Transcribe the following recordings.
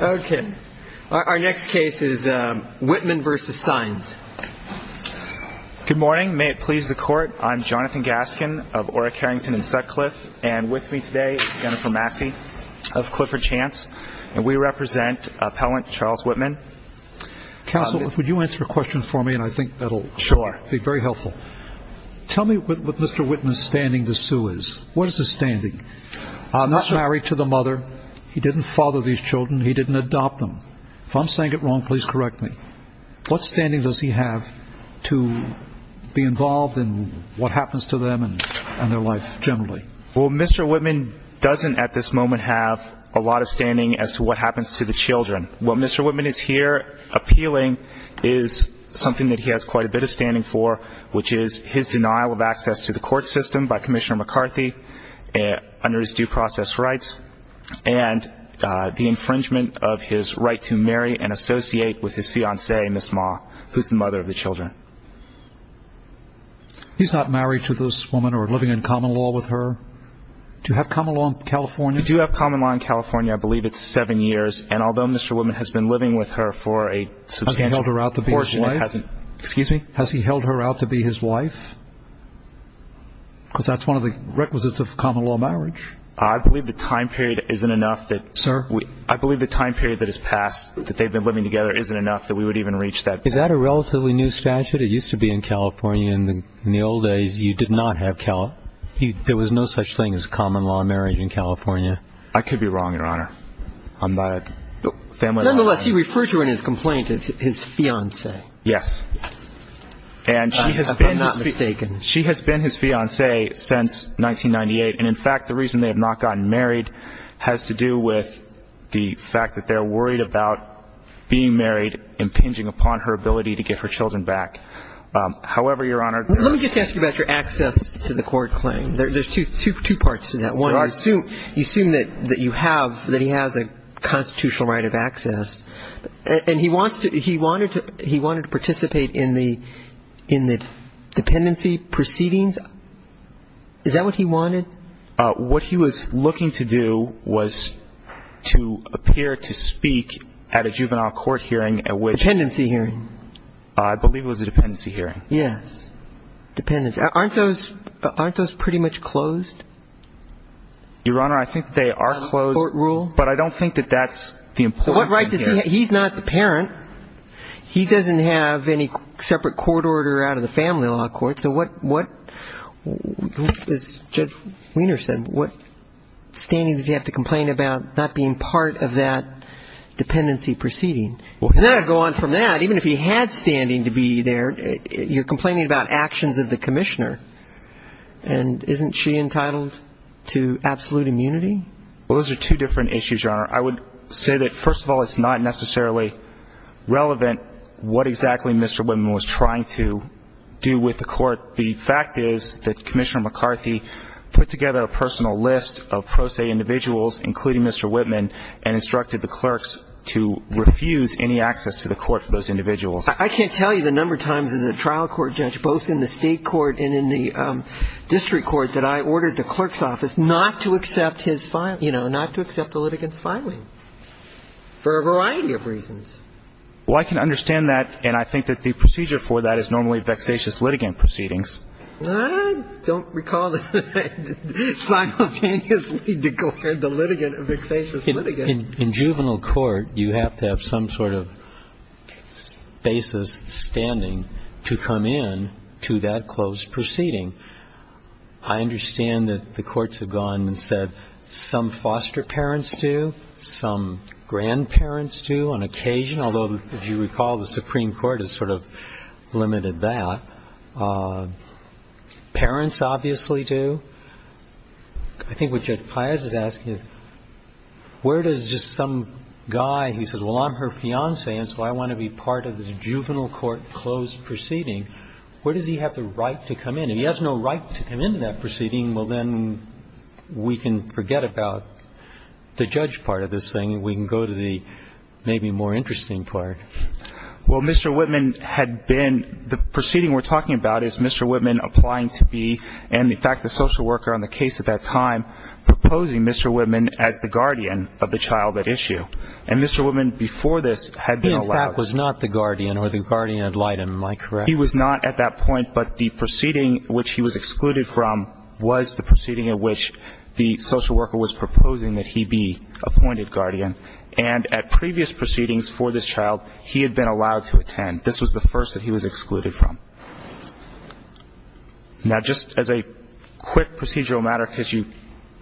Okay. Our next case is Wittman v. Saenz. Good morning. May it please the Court, I'm Jonathan Gaskin of Orrick, Harrington & Sutcliffe, and with me today is Jennifer Massey of Clifford Chance, and we represent appellant Charles Wittman. Counsel, would you answer a question for me, and I think that'll be very helpful. Tell me what Mr. Wittman's standing to sue is. What is his standing? I'm not married to the mother. He didn't father these children. He didn't adopt them. If I'm saying it wrong, please correct me. What standing does he have to be involved in what happens to them and their life generally? Well, Mr. Wittman doesn't at this moment have a lot of standing as to what happens to the children. What Mr. Wittman is here appealing is something that he has quite a bit of standing for, which is his denial of access to the court system by Commissioner McCarthy under his due process rights and the infringement of his right to marry and associate with his fiancée, Miss Ma, who's the mother of the children. He's not married to this woman or living in common law with her? Do you have common law in California? We do have common law in California. I believe it's seven years. And although Mr. Wittman has been living with her for a substantial portion of his life, has he held her out to be his wife because that's one of the requisites of common law marriage? I believe the time period isn't enough. Sir? I believe the time period that has passed that they've been living together isn't enough that we would even reach that. Is that a relatively new statute? It used to be in California. In the old days, you did not have – there was no such thing as common law marriage in California. I could be wrong, Your Honor. Nonetheless, he referred to in his complaint his fiancée. Yes. If I'm not mistaken. She has been his fiancée since 1998. And, in fact, the reason they have not gotten married has to do with the fact that they're worried about being married impinging upon her ability to get her children back. However, Your Honor – Let me just ask you about your access to the court claim. There's two parts to that. One, you assume that you have – that he has a constitutional right of access. And he wants to – he wanted to participate in the dependency proceedings. Is that what he wanted? What he was looking to do was to appear to speak at a juvenile court hearing at which – Dependency hearing. I believe it was a dependency hearing. Yes. Dependency. Aren't those pretty much closed? Your Honor, I think they are closed. Court rule? But I don't think that that's the important thing here. So what right does he have? He's not the parent. He doesn't have any separate court order out of the family law court. So what – as Judge Wiener said, what standing does he have to complain about not being part of that dependency proceeding? And then I'd go on from that. Even if he had standing to be there, you're complaining about actions of the commissioner. And isn't she entitled to absolute immunity? Well, those are two different issues, Your Honor. I would say that, first of all, it's not necessarily relevant what exactly Mr. Whitman was trying to do with the court. The fact is that Commissioner McCarthy put together a personal list of pro se individuals, including Mr. Whitman, and instructed the clerks to refuse any access to the court for those individuals. I can't tell you the number of times as a trial court judge, both in the state court and in the district court, that I ordered the clerk's office not to accept his – you know, not to accept the litigant's filing for a variety of reasons. Well, I can understand that, and I think that the procedure for that is normally vexatious litigant proceedings. I don't recall that I simultaneously declared the litigant a vexatious litigant. In juvenile court, you have to have some sort of basis standing to come in to that closed proceeding. I understand that the courts have gone and said some foster parents do, some grandparents do on occasion, although, if you recall, the Supreme Court has sort of limited that. Parents obviously do. I think what Judge Pius is asking is, where does just some guy – he says, well, I'm her fiancé, and so I want to be part of the juvenile court closed proceeding. Where does he have the right to come in? If he has no right to come into that proceeding, well, then we can forget about the judge part of this thing, and we can go to the maybe more interesting part. Well, Mr. Whitman had been – the proceeding we're talking about is Mr. Whitman applying to be, and in fact the social worker on the case at that time, proposing Mr. Whitman as the guardian of the child at issue. And Mr. Whitman before this had been allowed. He, in fact, was not the guardian, or the guardian ad litem, am I correct? He was not at that point, but the proceeding which he was excluded from was the proceeding at which the social worker was proposing that he be appointed guardian. And at previous proceedings for this child, he had been allowed to attend. This was the first that he was excluded from. Now, just as a quick procedural matter, because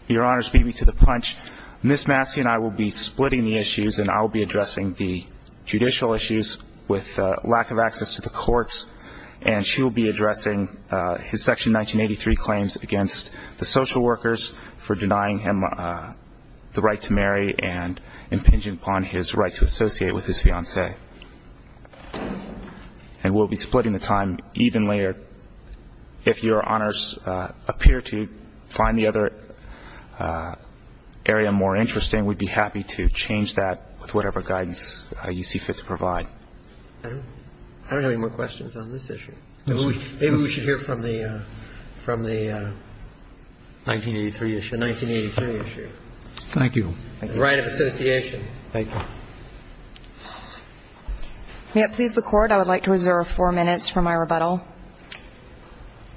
Your Honors beat me to the punch, Ms. Massey and I will be splitting the issues, and I will be addressing the judicial issues with lack of access to the courts, and she will be addressing his Section 1983 claims against the social workers for denying him the right to marry and impinging upon his right to associate with his fiancée. And we'll be splitting the time even later. If Your Honors appear to find the other area more interesting, we'd be happy to change that with whatever guidance you see fit to provide. I don't have any more questions on this issue. Maybe we should hear from the 1983 issue. The 1983 issue. Thank you. The right of association. Thank you. May it please the Court, I would like to reserve four minutes for my rebuttal.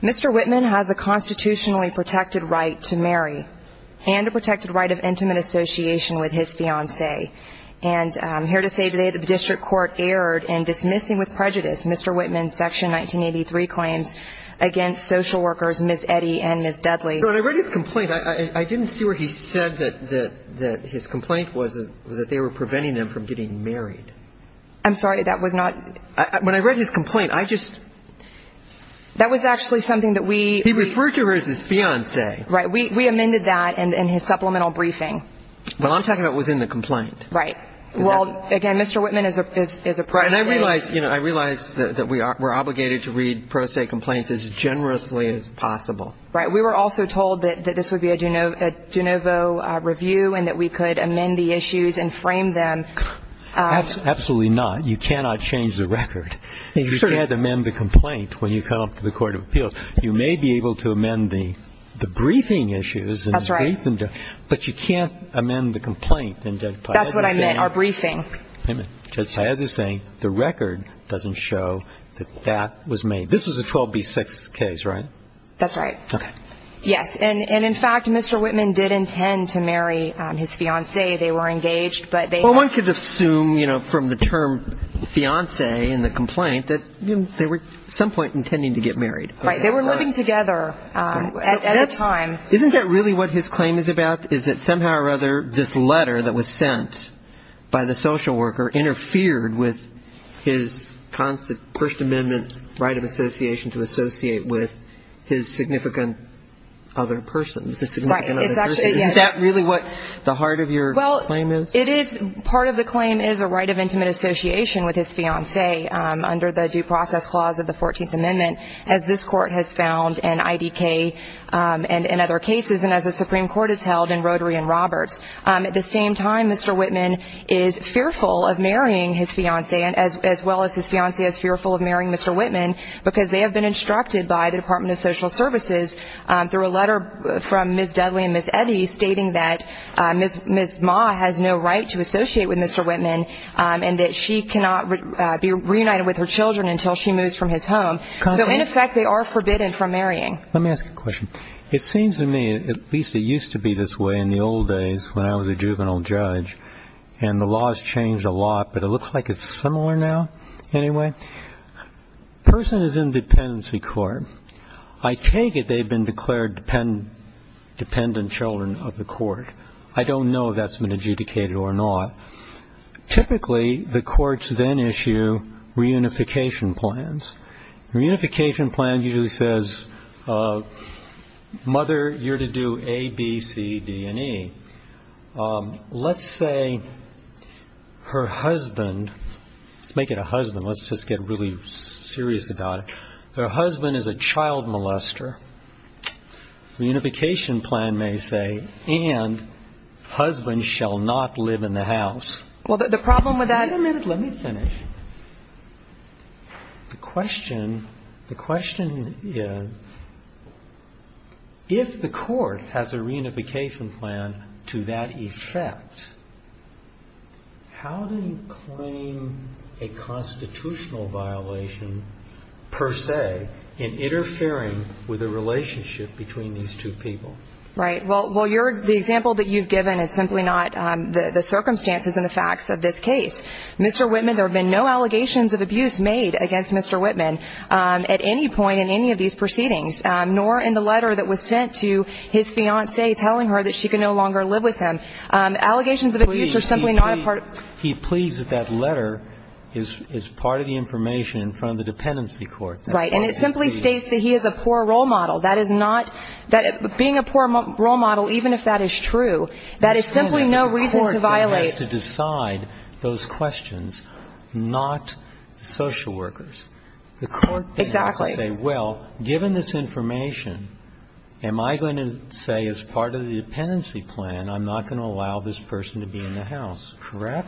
Mr. Whitman has a constitutionally protected right to marry and a protected right of intimate association with his fiancée. And I'm here to say today that the district court erred in dismissing with prejudice Mr. Whitman's Section 1983 claims against social workers Ms. Eddy and Ms. Dudley. When I read his complaint, I didn't see where he said that his complaint was that they were preventing them from getting married. I'm sorry. That was not ñ When I read his complaint, I just ñ That was actually something that we ñ He referred to her as his fiancée. Right. We amended that in his supplemental briefing. Well, I'm talking about within the complaint. Right. Well, again, Mr. Whitman is a protégé. And I realize, you know, I realize that we're obligated to read protégé complaints as generously as possible. Right. We were also told that this would be a de novo review and that we could amend the issues and frame them. Absolutely not. You cannot change the record. You can't amend the complaint when you come up to the court of appeals. You may be able to amend the briefing issues. That's right. But you can't amend the complaint. That's what I meant, our briefing. Judge Paz is saying the record doesn't show that that was made. This was a 12B6 case, right? That's right. Okay. Yes. And, in fact, Mr. Whitman did intend to marry his fiancée. They were engaged, but they ñ Well, one could assume, you know, from the term fiancée in the complaint that they were at some point intending to get married. Right. They were living together at the time. Isn't that really what his claim is about, is that somehow or other this letter that was sent by the social worker interfered with his constant First Amendment right of association to associate with his significant other person, the significant other person? Right. It's actually, yes. Isn't that really what the heart of your claim is? Well, it is. Part of the claim is a right of intimate association with his fiancée under the due process clause of the 14th Amendment, as this court has found in IDK and in other cases, and as the Supreme Court has held in Rotary and Roberts. At the same time, Mr. Whitman is fearful of marrying his fiancée as well as his fiancée is fearful of marrying Mr. Whitman because they have been instructed by the Department of Social Services through a letter from Ms. Dudley and Ms. Eddy stating that Ms. Ma has no right to associate with Mr. Whitman and that she cannot be reunited with her children until she moves from his home. So, in effect, they are forbidden from marrying. Let me ask a question. It seems to me, at least it used to be this way in the old days when I was a juvenile judge, and the laws changed a lot, but it looks like it's similar now anyway. A person is in dependency court. I take it they've been declared dependent children of the court. I don't know if that's been adjudicated or not. Typically, the courts then issue reunification plans. The reunification plan usually says, mother, you're to do A, B, C, D, and E. Let's say her husband, let's make it a husband. Let's just get really serious about it. Her husband is a child molester. The reunification plan may say, and husband shall not live in the house. Well, the problem with that ---- Wait a minute. Let me finish. The question, the question is, if the court has a reunification plan to that effect, how do you claim a constitutional violation per se in interfering with a relationship between these two people? Right. Well, your ---- the example that you've given is simply not the circumstances and the facts of this case. Mr. Whitman, there have been no allegations of abuse made against Mr. Whitman at any point in any of these proceedings, nor in the letter that was sent to his fiancée telling her that she could no longer live with him. Allegations of abuse are simply not a part of ---- He pleads that that letter is part of the information from the dependency court. Right. And it simply states that he is a poor role model. That is not ---- being a poor role model, even if that is true, that is simply no reason to violate ---- Well, I'm not going to say that the court has to say, well, given this information, I'm going to say, as part of the dependency plan, I'm not going to allow this person to be in the house. Correct?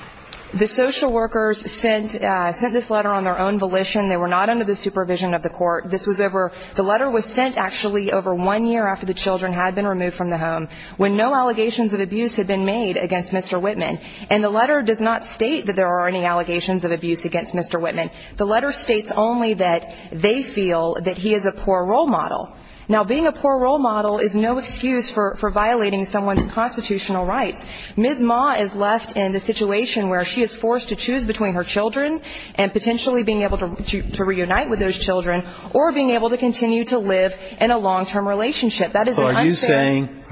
The social workers sent this letter on their own volition. They were not under the supervision of the court. This was over ---- the letter was sent actually over one year after the children had been removed from the home, when no allegations of abuse had been made against Mr. Whitman. And the letter does not state that there are any allegations of abuse against Mr. Whitman. The letter states only that they feel that he is a poor role model. Now, being a poor role model is no excuse for violating someone's constitutional rights. Ms. Ma is left in the situation where she is forced to choose between her children and potentially being able to reunite with those children or being able to continue to live in a long-term relationship. That is an unfair ----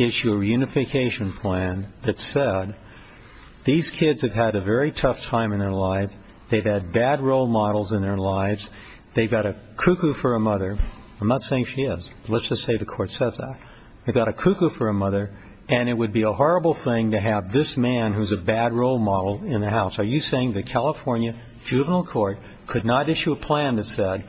issue a reunification plan that said these kids have had a very tough time in their lives. They've had bad role models in their lives. They've got a cuckoo for a mother. I'm not saying she is. Let's just say the court says that. They've got a cuckoo for a mother, and it would be a horrible thing to have this man who's a bad role model in the house. Are you saying the California juvenile court could not issue a plan that said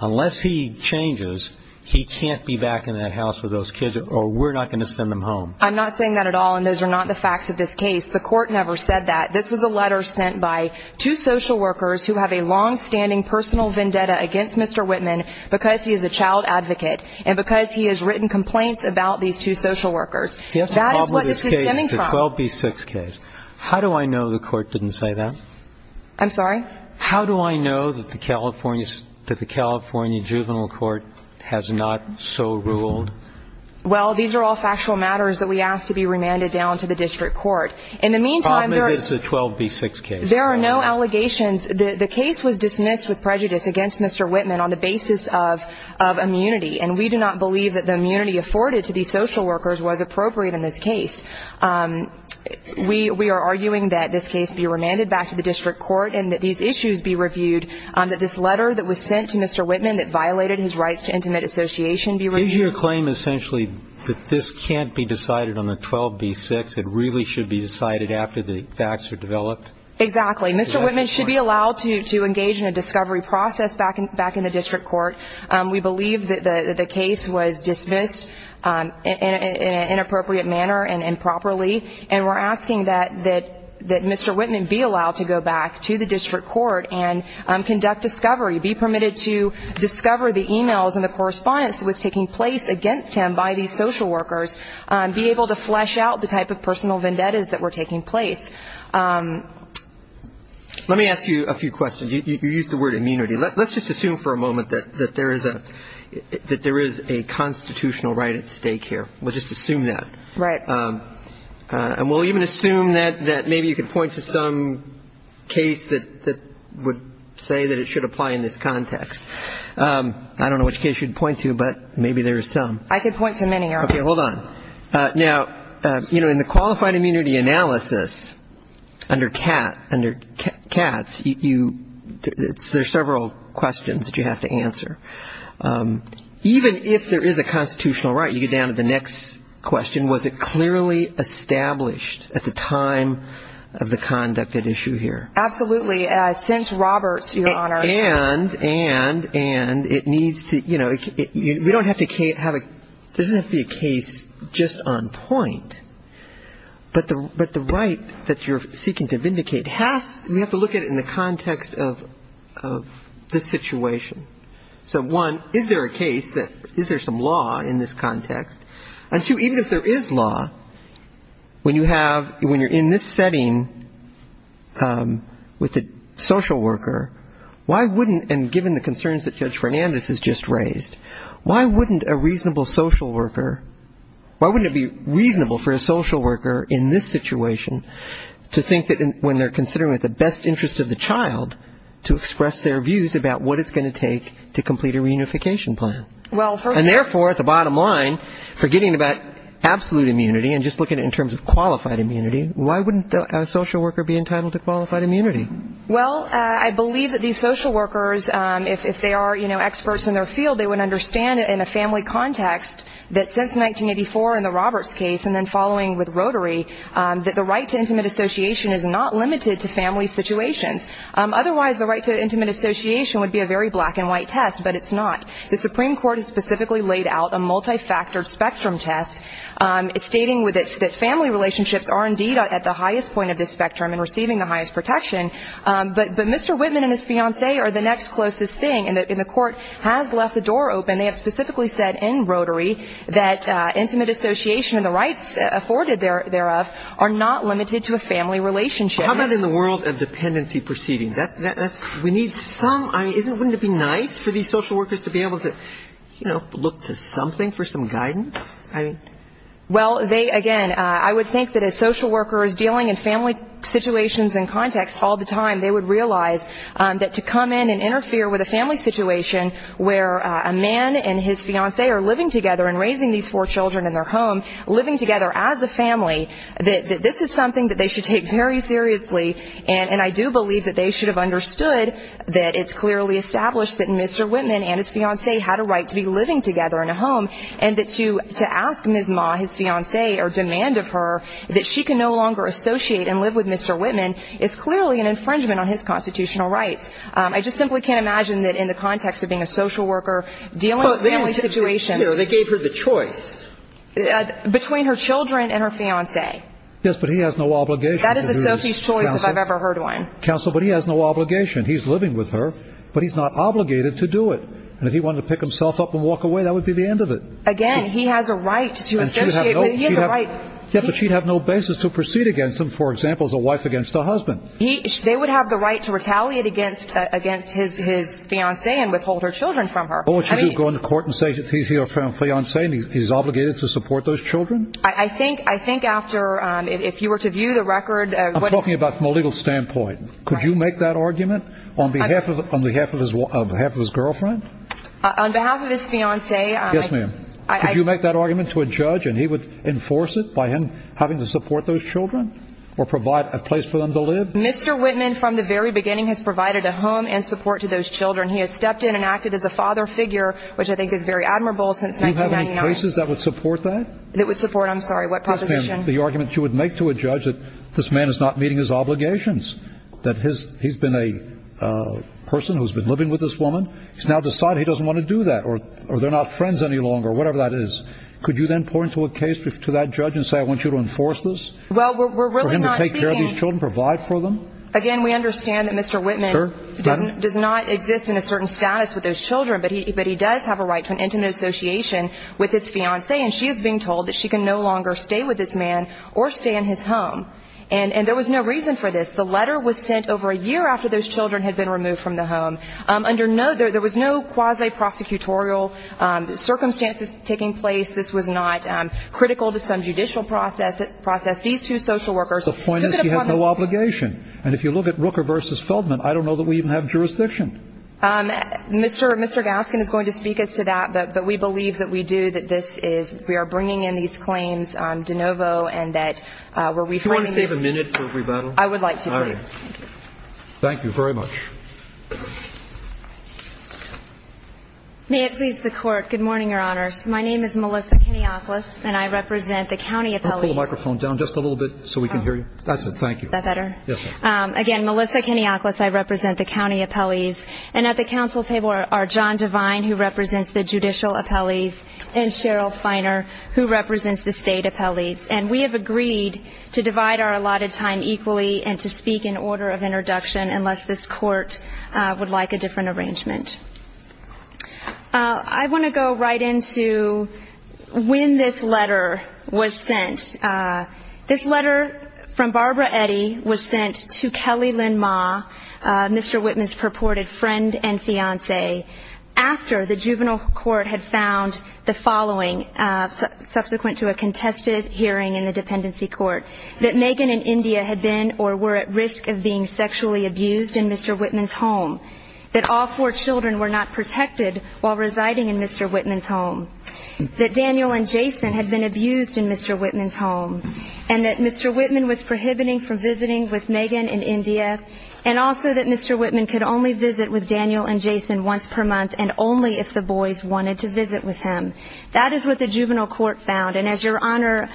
unless he changes, he can't be back in that house with those kids, or we're not going to send them home? I'm not saying that at all, and those are not the facts of this case. The court never said that. This was a letter sent by two social workers who have a longstanding personal vendetta against Mr. Whitman because he is a child advocate and because he has written complaints about these two social workers. That is what this is stemming from. It's a 12B6 case. How do I know the court didn't say that? I'm sorry? How do I know that the California juvenile court has not so ruled? Well, these are all factual matters that we ask to be remanded down to the district court. In the meantime, there are no allegations. The case was dismissed with prejudice against Mr. Whitman on the basis of immunity, and we do not believe that the immunity afforded to these social workers was appropriate in this case. We are arguing that this case be remanded back to the district court and that these issues be reviewed, that this letter that was sent to Mr. Whitman that violated his rights to intimate association be reviewed. Is your claim essentially that this can't be decided on the 12B6? It really should be decided after the facts are developed? Exactly. Mr. Whitman should be allowed to engage in a discovery process back in the district court. We believe that the case was dismissed in an inappropriate manner and improperly, and we're asking that Mr. Whitman be allowed to go back to the district court and conduct discovery, be permitted to discover the e-mails and the correspondence that was taking place against him by these social workers, be able to flesh out the type of personal vendettas that were taking place. Let me ask you a few questions. You used the word immunity. Let's just assume for a moment that there is a constitutional right at stake here. We'll just assume that. Right. And we'll even assume that maybe you could point to some case that would say that it should apply in this context. I don't know which case you'd point to, but maybe there are some. I could point to many, Your Honor. Okay. Hold on. Now, you know, in the qualified immunity analysis under Katz, there are several questions that you have to answer. Even if there is a constitutional right, you get down to the next question, was it clearly established at the time of the conduct at issue here? Absolutely. Since Roberts, Your Honor. And it needs to, you know, we don't have to have a, it doesn't have to be a case just on point, but the right that you're seeking to vindicate has, we have to look at it in the context of the situation. So, one, is there a case that, is there some law in this context? And two, even if there is law, when you have, when you're in this setting with a social worker, why wouldn't, and given the concerns that Judge Fernandez has just raised, why wouldn't a reasonable social worker, why wouldn't it be reasonable for a social worker in this situation to think that when they're considering the best interest of the child to express their views about what it's going to take to complete a reunification plan? And therefore, at the bottom line, forgetting about absolute immunity and just looking at it in terms of qualified immunity, why wouldn't a social worker be entitled to qualified immunity? Well, I believe that these social workers, if they are experts in their field, they would understand in a family context that since 1984 in the Roberts case and then following with Rotary, that the right to intimate association is not limited to family situations. Otherwise, the right to intimate association would be a very black and white test, but it's not. The Supreme Court has specifically laid out a multifactored spectrum test stating that family relationships are indeed at the highest point of the spectrum and receiving the highest protection. But Mr. Whitman and his fiancee are the next closest thing, and the court has left the door open. They have specifically said in Rotary that intimate association and the rights afforded thereof are not limited to a family relationship. How about in the world of dependency proceedings? Wouldn't it be nice for these social workers to be able to, you know, look to something for some guidance? Well, again, I would think that a social worker is dealing in family situations and context all the time. They would realize that to come in and interfere with a family situation where a man and his fiancee are living together and raising these four children in their home, living together as a family, that this is something that they should take very seriously. And I do believe that they should have understood that it's clearly established that Mr. Whitman and his fiancee had a right to be living together in a home, and that to ask Ms. Ma, his fiancee, or demand of her that she can no longer associate and live with Mr. Whitman is clearly an infringement on his constitutional rights. I just simply can't imagine that in the context of being a social worker dealing in family situations. Here, they gave her the choice. Between her children and her fiancee. Yes, but he has no obligation. That is a social choice if I've ever heard one. Counsel, but he has no obligation. He's living with her, but he's not obligated to do it. And if he wanted to pick himself up and walk away, that would be the end of it. Again, he has a right to associate. He has a right. Yes, but she'd have no basis to proceed against him, for example, as a wife against a husband. They would have the right to retaliate against his fiancee and withhold her children from her. What would you do? Go into court and say he's your fiancee and he's obligated to support those children? I think after, if you were to view the record. I'm talking about from a legal standpoint. Could you make that argument on behalf of his girlfriend? On behalf of his fiancee. Yes, ma'am. Could you make that argument to a judge and he would enforce it by him having to support those children or provide a place for them to live? Mr. Whitman from the very beginning has provided a home and support to those children. He has stepped in and acted as a father figure, which I think is very admirable since 1999. Do you have cases that would support that? That would support, I'm sorry, what proposition? The argument you would make to a judge that this man is not meeting his obligations, that he's been a person who's been living with this woman. He's now decided he doesn't want to do that or they're not friends any longer, whatever that is. Could you then pour into a case to that judge and say I want you to enforce this? Well, we're really not seeking. For him to take care of these children, provide for them? Again, we understand that Mr. Whitman does not exist in a certain status with those children, but he does have a right to an intimate association with his fiancée, and she is being told that she can no longer stay with this man or stay in his home. And there was no reason for this. The letter was sent over a year after those children had been removed from the home. There was no quasi-prosecutorial circumstances taking place. This was not critical to some judicial process. These two social workers took it upon themselves. The point is you have no obligation. And if you look at Rooker v. Feldman, I don't know that we even have jurisdiction. What does that mean? Mr. Gaskin is going to speak to us to that, but we believe that we do, that this is we are bringing in these claims de novo and that we're reframing this. Do you want to save a minute for rebuttal? I would like to, please. All right. Thank you very much. May it please the Court, good morning, Your Honors. My name is Melissa Kenioklis, and I represent the county appellees. Pull the microphone down just a little bit so we can hear you. That's it. Thank you. Is that better? Yes, that's better. Again, Melissa Kenioklis, I represent the county appellees. And at the council table are John Devine, who represents the judicial appellees, and Cheryl Feiner, who represents the state appellees. And we have agreed to divide our allotted time equally and to speak in order of introduction unless this Court would like a different arrangement. I want to go right into when this letter was sent. This letter from Barbara Eddy was sent to Kelly Lynn Ma, Mr. Whitman's purported friend and fiancé, after the juvenile court had found the following subsequent to a contested hearing in the dependency court, that Megan and India had been or were at risk of being sexually abused in Mr. Whitman's home, that all four children were not protected while residing in Mr. Whitman's home, and that Mr. Whitman was prohibiting from visiting with Megan and India, and also that Mr. Whitman could only visit with Daniel and Jason once per month and only if the boys wanted to visit with him. That is what the juvenile court found. And as Your Honor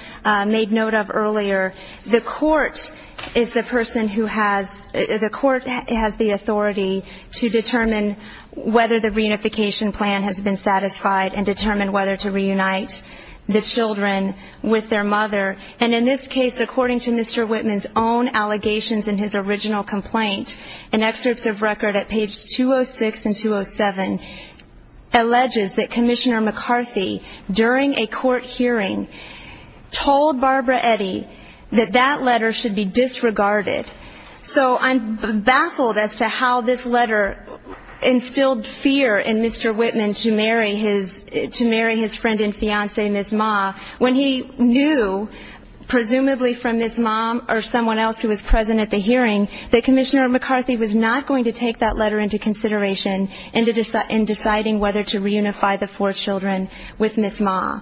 made note of earlier, the court is the person who has the authority to determine whether the reunification plan has been satisfied and determine whether to reunite the children with their mother. And in this case, according to Mr. Whitman's own allegations in his original complaint and excerpts of record at pages 206 and 207, alleges that Commissioner McCarthy, during a court hearing, told Barbara Eddy that that letter should be disregarded. So I'm baffled as to how this letter instilled fear in Mr. Whitman to marry his friend and fiancee, Ms. Ma, when he knew, presumably from Ms. Ma or someone else who was present at the hearing, that Commissioner McCarthy was not going to take that letter into consideration in deciding whether to reunify the four children with Ms. Ma.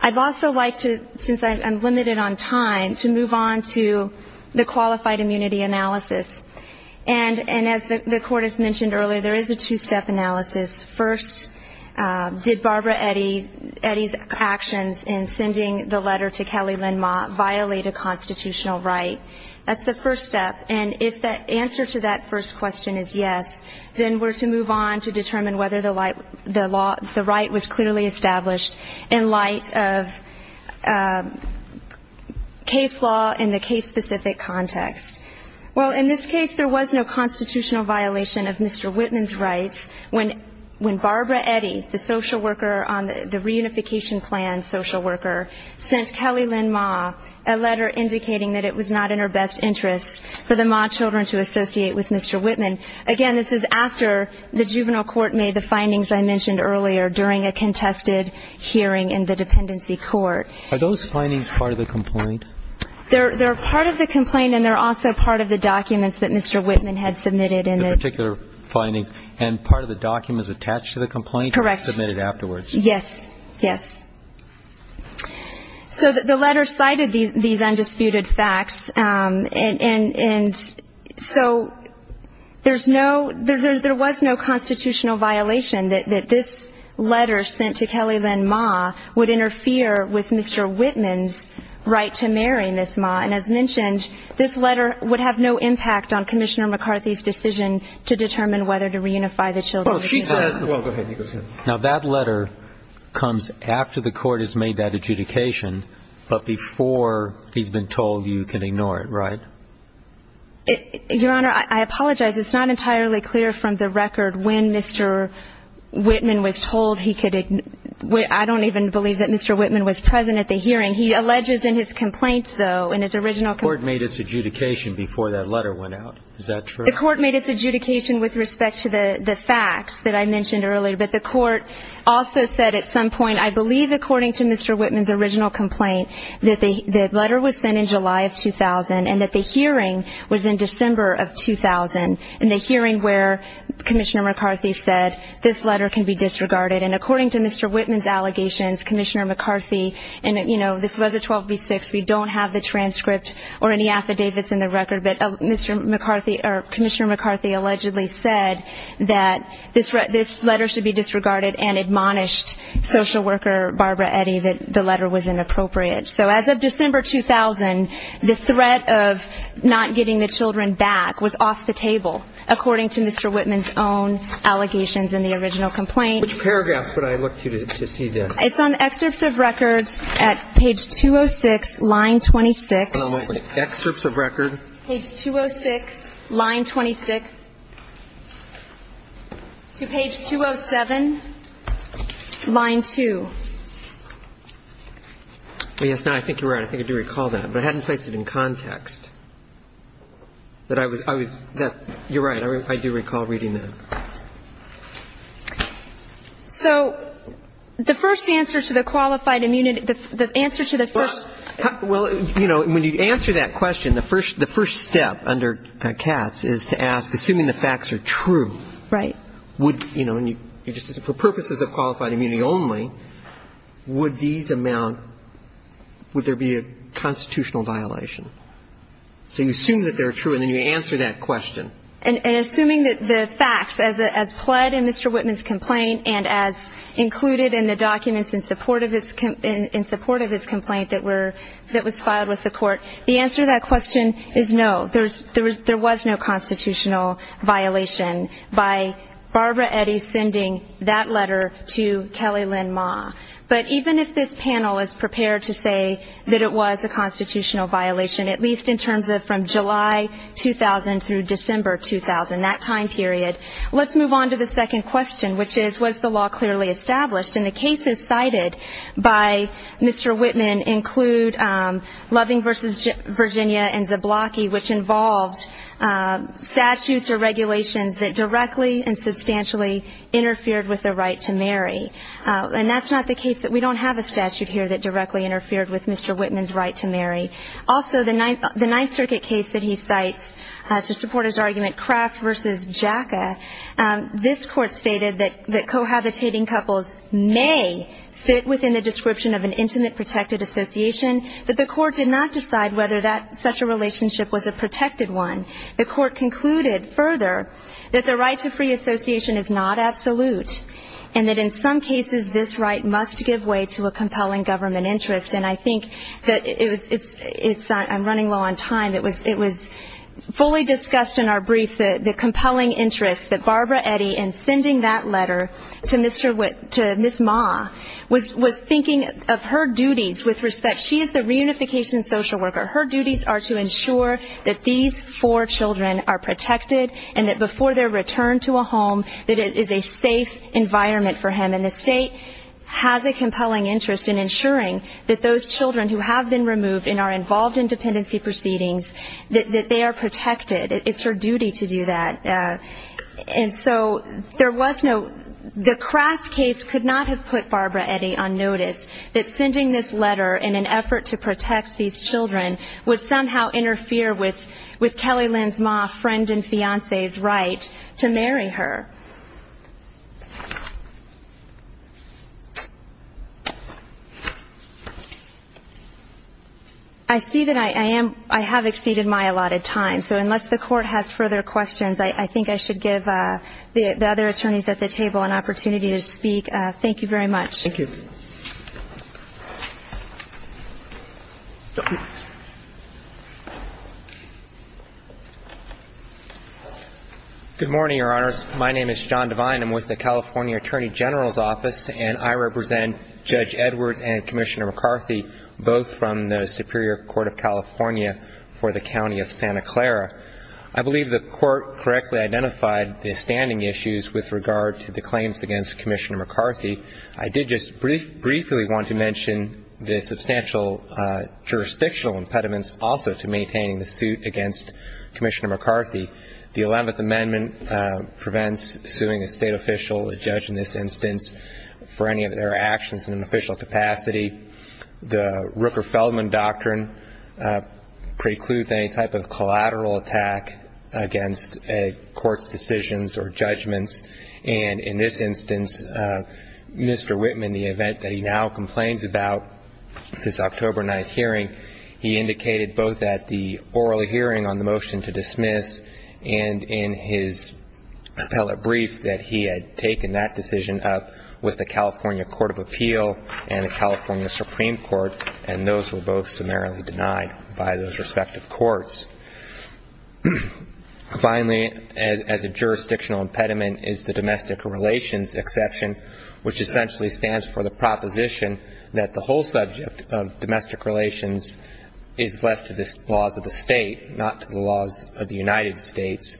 I'd also like to, since I'm limited on time, to move on to the qualified immunity analysis. And as the court has mentioned earlier, there is a two-step analysis. First, did Barbara Eddy's actions in sending the letter to Kelly Lynn Ma violate a constitutional right? That's the first step. And if the answer to that first question is yes, then we're to move on to determine whether the right was clearly established in light of case law in the case-specific context. Well, in this case, there was no constitutional violation of Mr. Whitman's When Barbara Eddy, the social worker on the reunification plan social worker, sent Kelly Lynn Ma a letter indicating that it was not in her best interest for the Ma children to associate with Mr. Whitman. Again, this is after the juvenile court made the findings I mentioned earlier during a contested hearing in the dependency court. Are those findings part of the complaint? They're part of the complaint, and they're also part of the documents that Mr. Whitman had submitted. The particular findings, and part of the documents attached to the complaint were submitted afterwards. Correct. Yes. Yes. So the letter cited these undisputed facts. And so there was no constitutional violation that this letter sent to Kelly Lynn Ma would interfere with Mr. Whitman's right to marry Miss Ma. And as mentioned, this letter would have no impact on Commissioner McCarthy's decision to determine whether to reunify the children of Miss Ma. Well, she says the law. Go ahead. Now, that letter comes after the court has made that adjudication, but before he's been told you can ignore it, right? Your Honor, I apologize. It's not entirely clear from the record when Mr. Whitman was told he could ignore it. I don't even believe that Mr. Whitman was present at the hearing. He alleges in his complaint, though, in his original complaint. The court made its adjudication before that letter went out. Is that true? The court made its adjudication with respect to the facts that I mentioned earlier. But the court also said at some point, I believe according to Mr. Whitman's original complaint, that the letter was sent in July of 2000 and that the hearing was in December of 2000 in the hearing where Commissioner McCarthy said this letter can be disregarded. And according to Mr. Whitman's allegations, Commissioner McCarthy, and, you know, this was a 12B6. We don't have the transcript or any affidavits in the record. But Commissioner McCarthy allegedly said that this letter should be disregarded and admonished social worker Barbara Eddy that the letter was inappropriate. So as of December 2000, the threat of not getting the children back was off the table, according to Mr. Whitman's own allegations in the original complaint. Which paragraphs would I look to to see this? It's on excerpts of record at page 206, line 26. It's on excerpts of record. Page 206, line 26. To page 207, line 2. Yes. I think you're right. I think I do recall that. But I hadn't placed it in context. You're right. I do recall reading that. So the first answer to the qualified immunity, the answer to the first. Well, you know, when you answer that question, the first step under Katz is to ask, assuming the facts are true. Right. Would, you know, for purposes of qualified immunity only, would these amount, would there be a constitutional violation? So you assume that they're true, and then you answer that question. And assuming that the facts, as pled in Mr. Whitman's complaint and as included in the documents in support of his complaint that was filed with the court, the answer to that question is no. There was no constitutional violation by Barbara Eddy sending that letter to Kelly Lynn Ma. But even if this panel is prepared to say that it was a constitutional violation, at least in terms of from July 2000 through December 2000, that time period, let's move on to the second question, which is, was the law clearly established? And the cases cited by Mr. Whitman include Loving v. Virginia and Zablocki, which involved statutes or regulations that directly and substantially interfered with the right to marry. And that's not the case that we don't have a statute here that directly interfered with Mr. Whitman's right to marry. Also, the Ninth Circuit case that he cites to support his argument, Kraft v. Jaca, this court stated that cohabitating couples may fit within the description of an intimate protected association, but the court did not decide whether such a relationship was a protected one. The court concluded further that the right to free association is not absolute and that in some cases this right must give way to a compelling government interest. And I think that it's ‑‑ I'm running low on time. It was fully discussed in our brief the compelling interest that Barbara Eddy in sending that letter to Ms. Ma was thinking of her duties with respect. She is the reunification social worker. Her duties are to ensure that these four children are protected and that before their return to a home that it is a safe environment for him. And the state has a compelling interest in ensuring that those children who have been removed in our involved in dependency proceedings, that they are protected. It's her duty to do that. And so there was no ‑‑ the Kraft case could not have put Barbara Eddy on notice that sending this letter in an effort to protect these children would somehow interfere with Kelly Lynn's ma friend and fiancé's right to marry her. I see that I am ‑‑ I have exceeded my allotted time. So unless the court has further questions, I think I should give the other attorneys at the table an opportunity to speak. Thank you very much. Thank you. Good morning, Your Honors. My name is John Devine. I'm with the California Attorney General's Office, and I represent Judge Edwards and Commissioner McCarthy, both from the Superior Court of California for the County of Santa Clara. I believe the Court correctly identified the standing issues with regard to the claims against Commissioner McCarthy. I did just briefly want to mention the substantial jurisdictional impediments also to maintaining the suit against Commissioner McCarthy. The 11th Amendment prevents suing a state official, a judge in this instance, for any of their actions in an official capacity. The Rooker-Feldman Doctrine precludes any type of collateral attack against a court's decisions or judgments, and in this instance, Mr. Whitman, the event that he now complains about this October 9th hearing, he indicated both at the oral hearing on the motion to dismiss and in his appellate brief that he had taken that decision up with the California Court of Appeal and the California Supreme Court, and those were both summarily denied by those respective courts. Finally, as a jurisdictional impediment is the domestic relations exception, which essentially stands for the proposition that the whole subject of domestic relations is left to the laws of the state, not to the laws of the United States.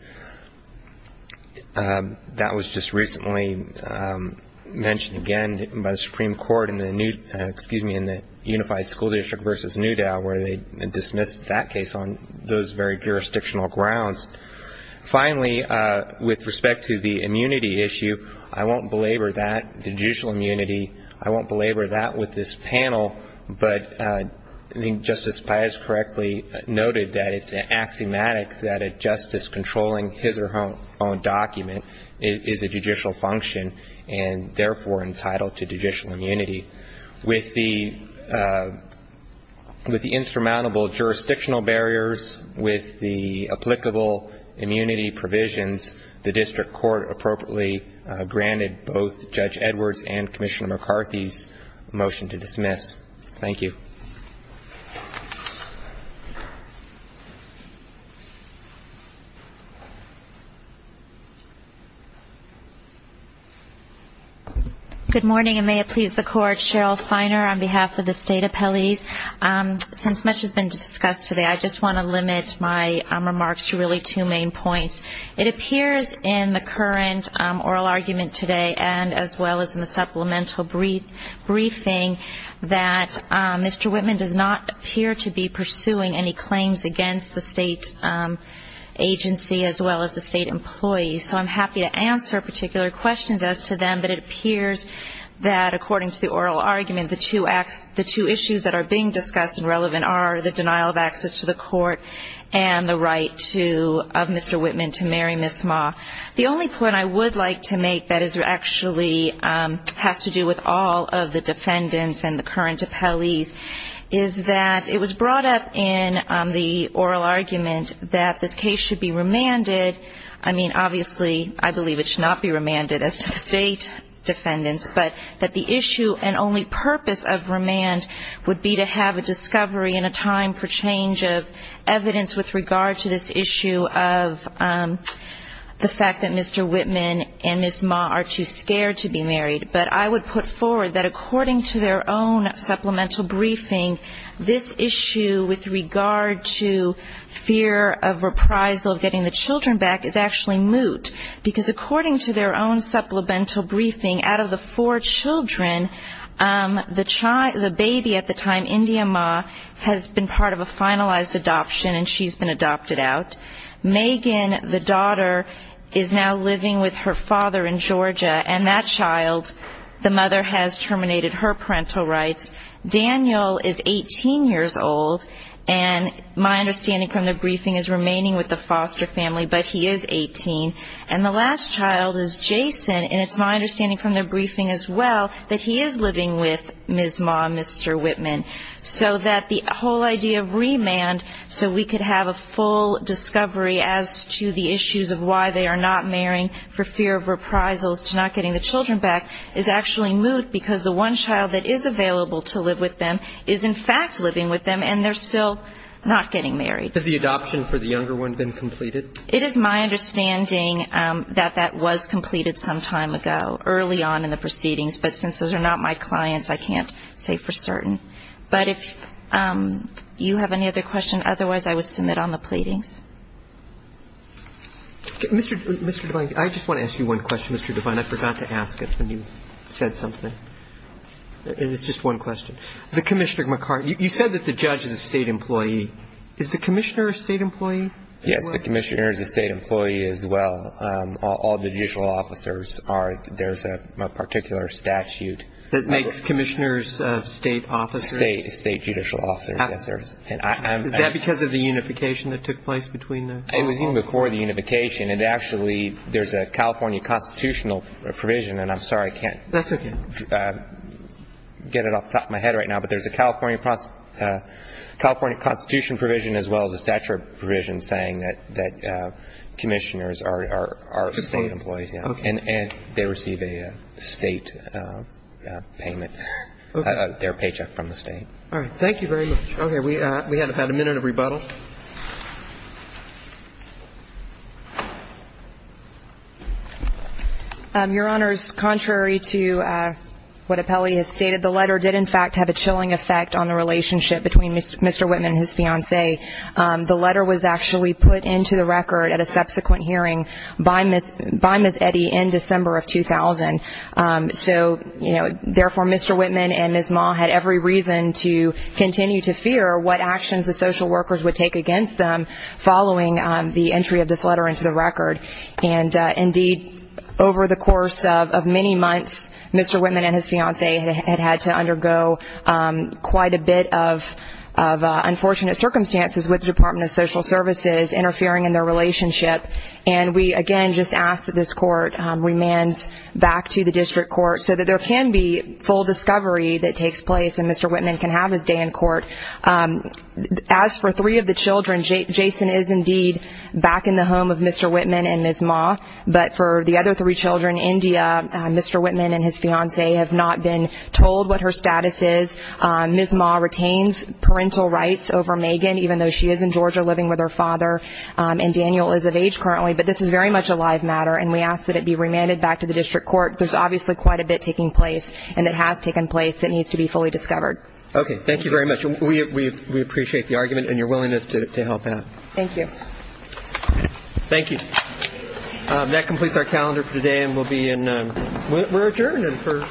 That was just recently mentioned again by the Supreme Court in the Unified School District versus Newdale where they dismissed that case on those very jurisdictional grounds. Finally, with respect to the immunity issue, I won't belabor that. Judicial immunity, I won't belabor that with this panel, but I think Justice Paez correctly noted that it's axiomatic that a justice controlling his or her own document is a judicial function and therefore entitled to judicial immunity. With the insurmountable jurisdictional barriers, with the applicable immunity provisions, the district court appropriately granted both Judge Edwards and Commissioner McCarthy's motion to dismiss. Thank you. Good morning, and may it please the Court. Cheryl Feiner on behalf of the State Appellees. Since much has been discussed today, I just want to limit my remarks to really two main points. It appears in the current oral argument today, and as well as in the supplemental briefing, Mr. Whitman does not appear to be pursuing any claims against the state agency as well as the state employees. So I'm happy to answer particular questions as to them, but it appears that according to the oral argument, the two issues that are being discussed and relevant are the denial of access to the court and the right of Mr. Whitman to marry Miss Ma. The only point I would like to make that actually has to do with all of the defendants and the current appellees is that it was brought up in the oral argument that this case should be remanded. I mean, obviously, I believe it should not be remanded as to the state defendants, but that the issue and only purpose of remand would be to have a discovery and a time for change of evidence with regard to this issue of the fact that Mr. Whitman and Miss Ma are too scared to be married. But I would put forward that according to their own supplemental briefing, this issue with regard to fear of reprisal, of getting the children back, is actually moot. Because according to their own supplemental briefing, out of the four children, the baby at the time, India Ma, has been part of a finalized adoption and she's been adopted out. Megan, the daughter, is now living with her father in Georgia, and that child, the mother has terminated her parental rights. Daniel is 18 years old, and my understanding from the briefing is remaining with the foster family, but he is 18. And the last child is Jason, and it's my understanding from the briefing as well, that he is living with Miss Ma and Mr. Whitman. So that the whole idea of remand, so we could have a full discovery as to the issues of why they are not marrying for fear of reprisals, to not getting the children back, is actually moot, because the one child that is available to live with them is in fact living with them, and they're still not getting married. Has the adoption for the younger one been completed? It is my understanding that that was completed some time ago, early on in the proceedings. But since those are not my clients, I can't say for certain. But if you have any other questions, otherwise I would submit on the pleadings. Mr. Devine, I just want to ask you one question, Mr. Devine. I forgot to ask it when you said something, and it's just one question. The Commissioner, you said that the judge is a state employee. Is the Commissioner a state employee? Yes, the Commissioner is a state employee as well. All the judicial officers are. There's a particular statute. That makes Commissioners state officers? State judicial officers, yes, there is. Is that because of the unification that took place between the two? It was even before the unification. It actually, there's a California constitutional provision, and I'm sorry I can't get it off the top of my head right now, but there's a California constitution provision as well as a statute provision saying that Commissioners are state employees. And they receive a state payment, their paycheck from the state. All right. Thank you very much. We have had a minute of rebuttal. Your Honors, contrary to what Apelli has stated, the letter did in fact have a chilling effect on the relationship between Mr. Whitman and his fiancée. The letter was actually put into the record at a subsequent hearing by Ms. Eddy in December of 2000. So, you know, therefore, Mr. Whitman and Ms. Ma had every reason to continue to fear what actions the social workers would take against them following the entry of this letter into the record. And, indeed, over the course of many months, Mr. Whitman and his fiancée had had to undergo quite a bit of unfortunate circumstances with the Department of Social Services interfering in their relationship. And we, again, just ask that this court remands back to the district court so that there can be full discovery that takes place and Mr. Whitman can have his day in court. As for three of the children, Jason is, indeed, back in the home of Mr. Whitman and Ms. Ma. But for the other three children, India, Mr. Whitman and his fiancée have not been told what her status is. Ms. Ma retains parental rights over Megan, even though she is in Georgia living with her father. And Daniel is of age currently. But this is very much a live matter, and we ask that it be remanded back to the district court. There's obviously quite a bit taking place, and it has taken place, that needs to be fully discovered. Okay. Thank you very much. We appreciate the argument and your willingness to help out. Thank you. Thank you. That completes our calendar for today, and we'll be in ñ we're adjourned for, you know, next month.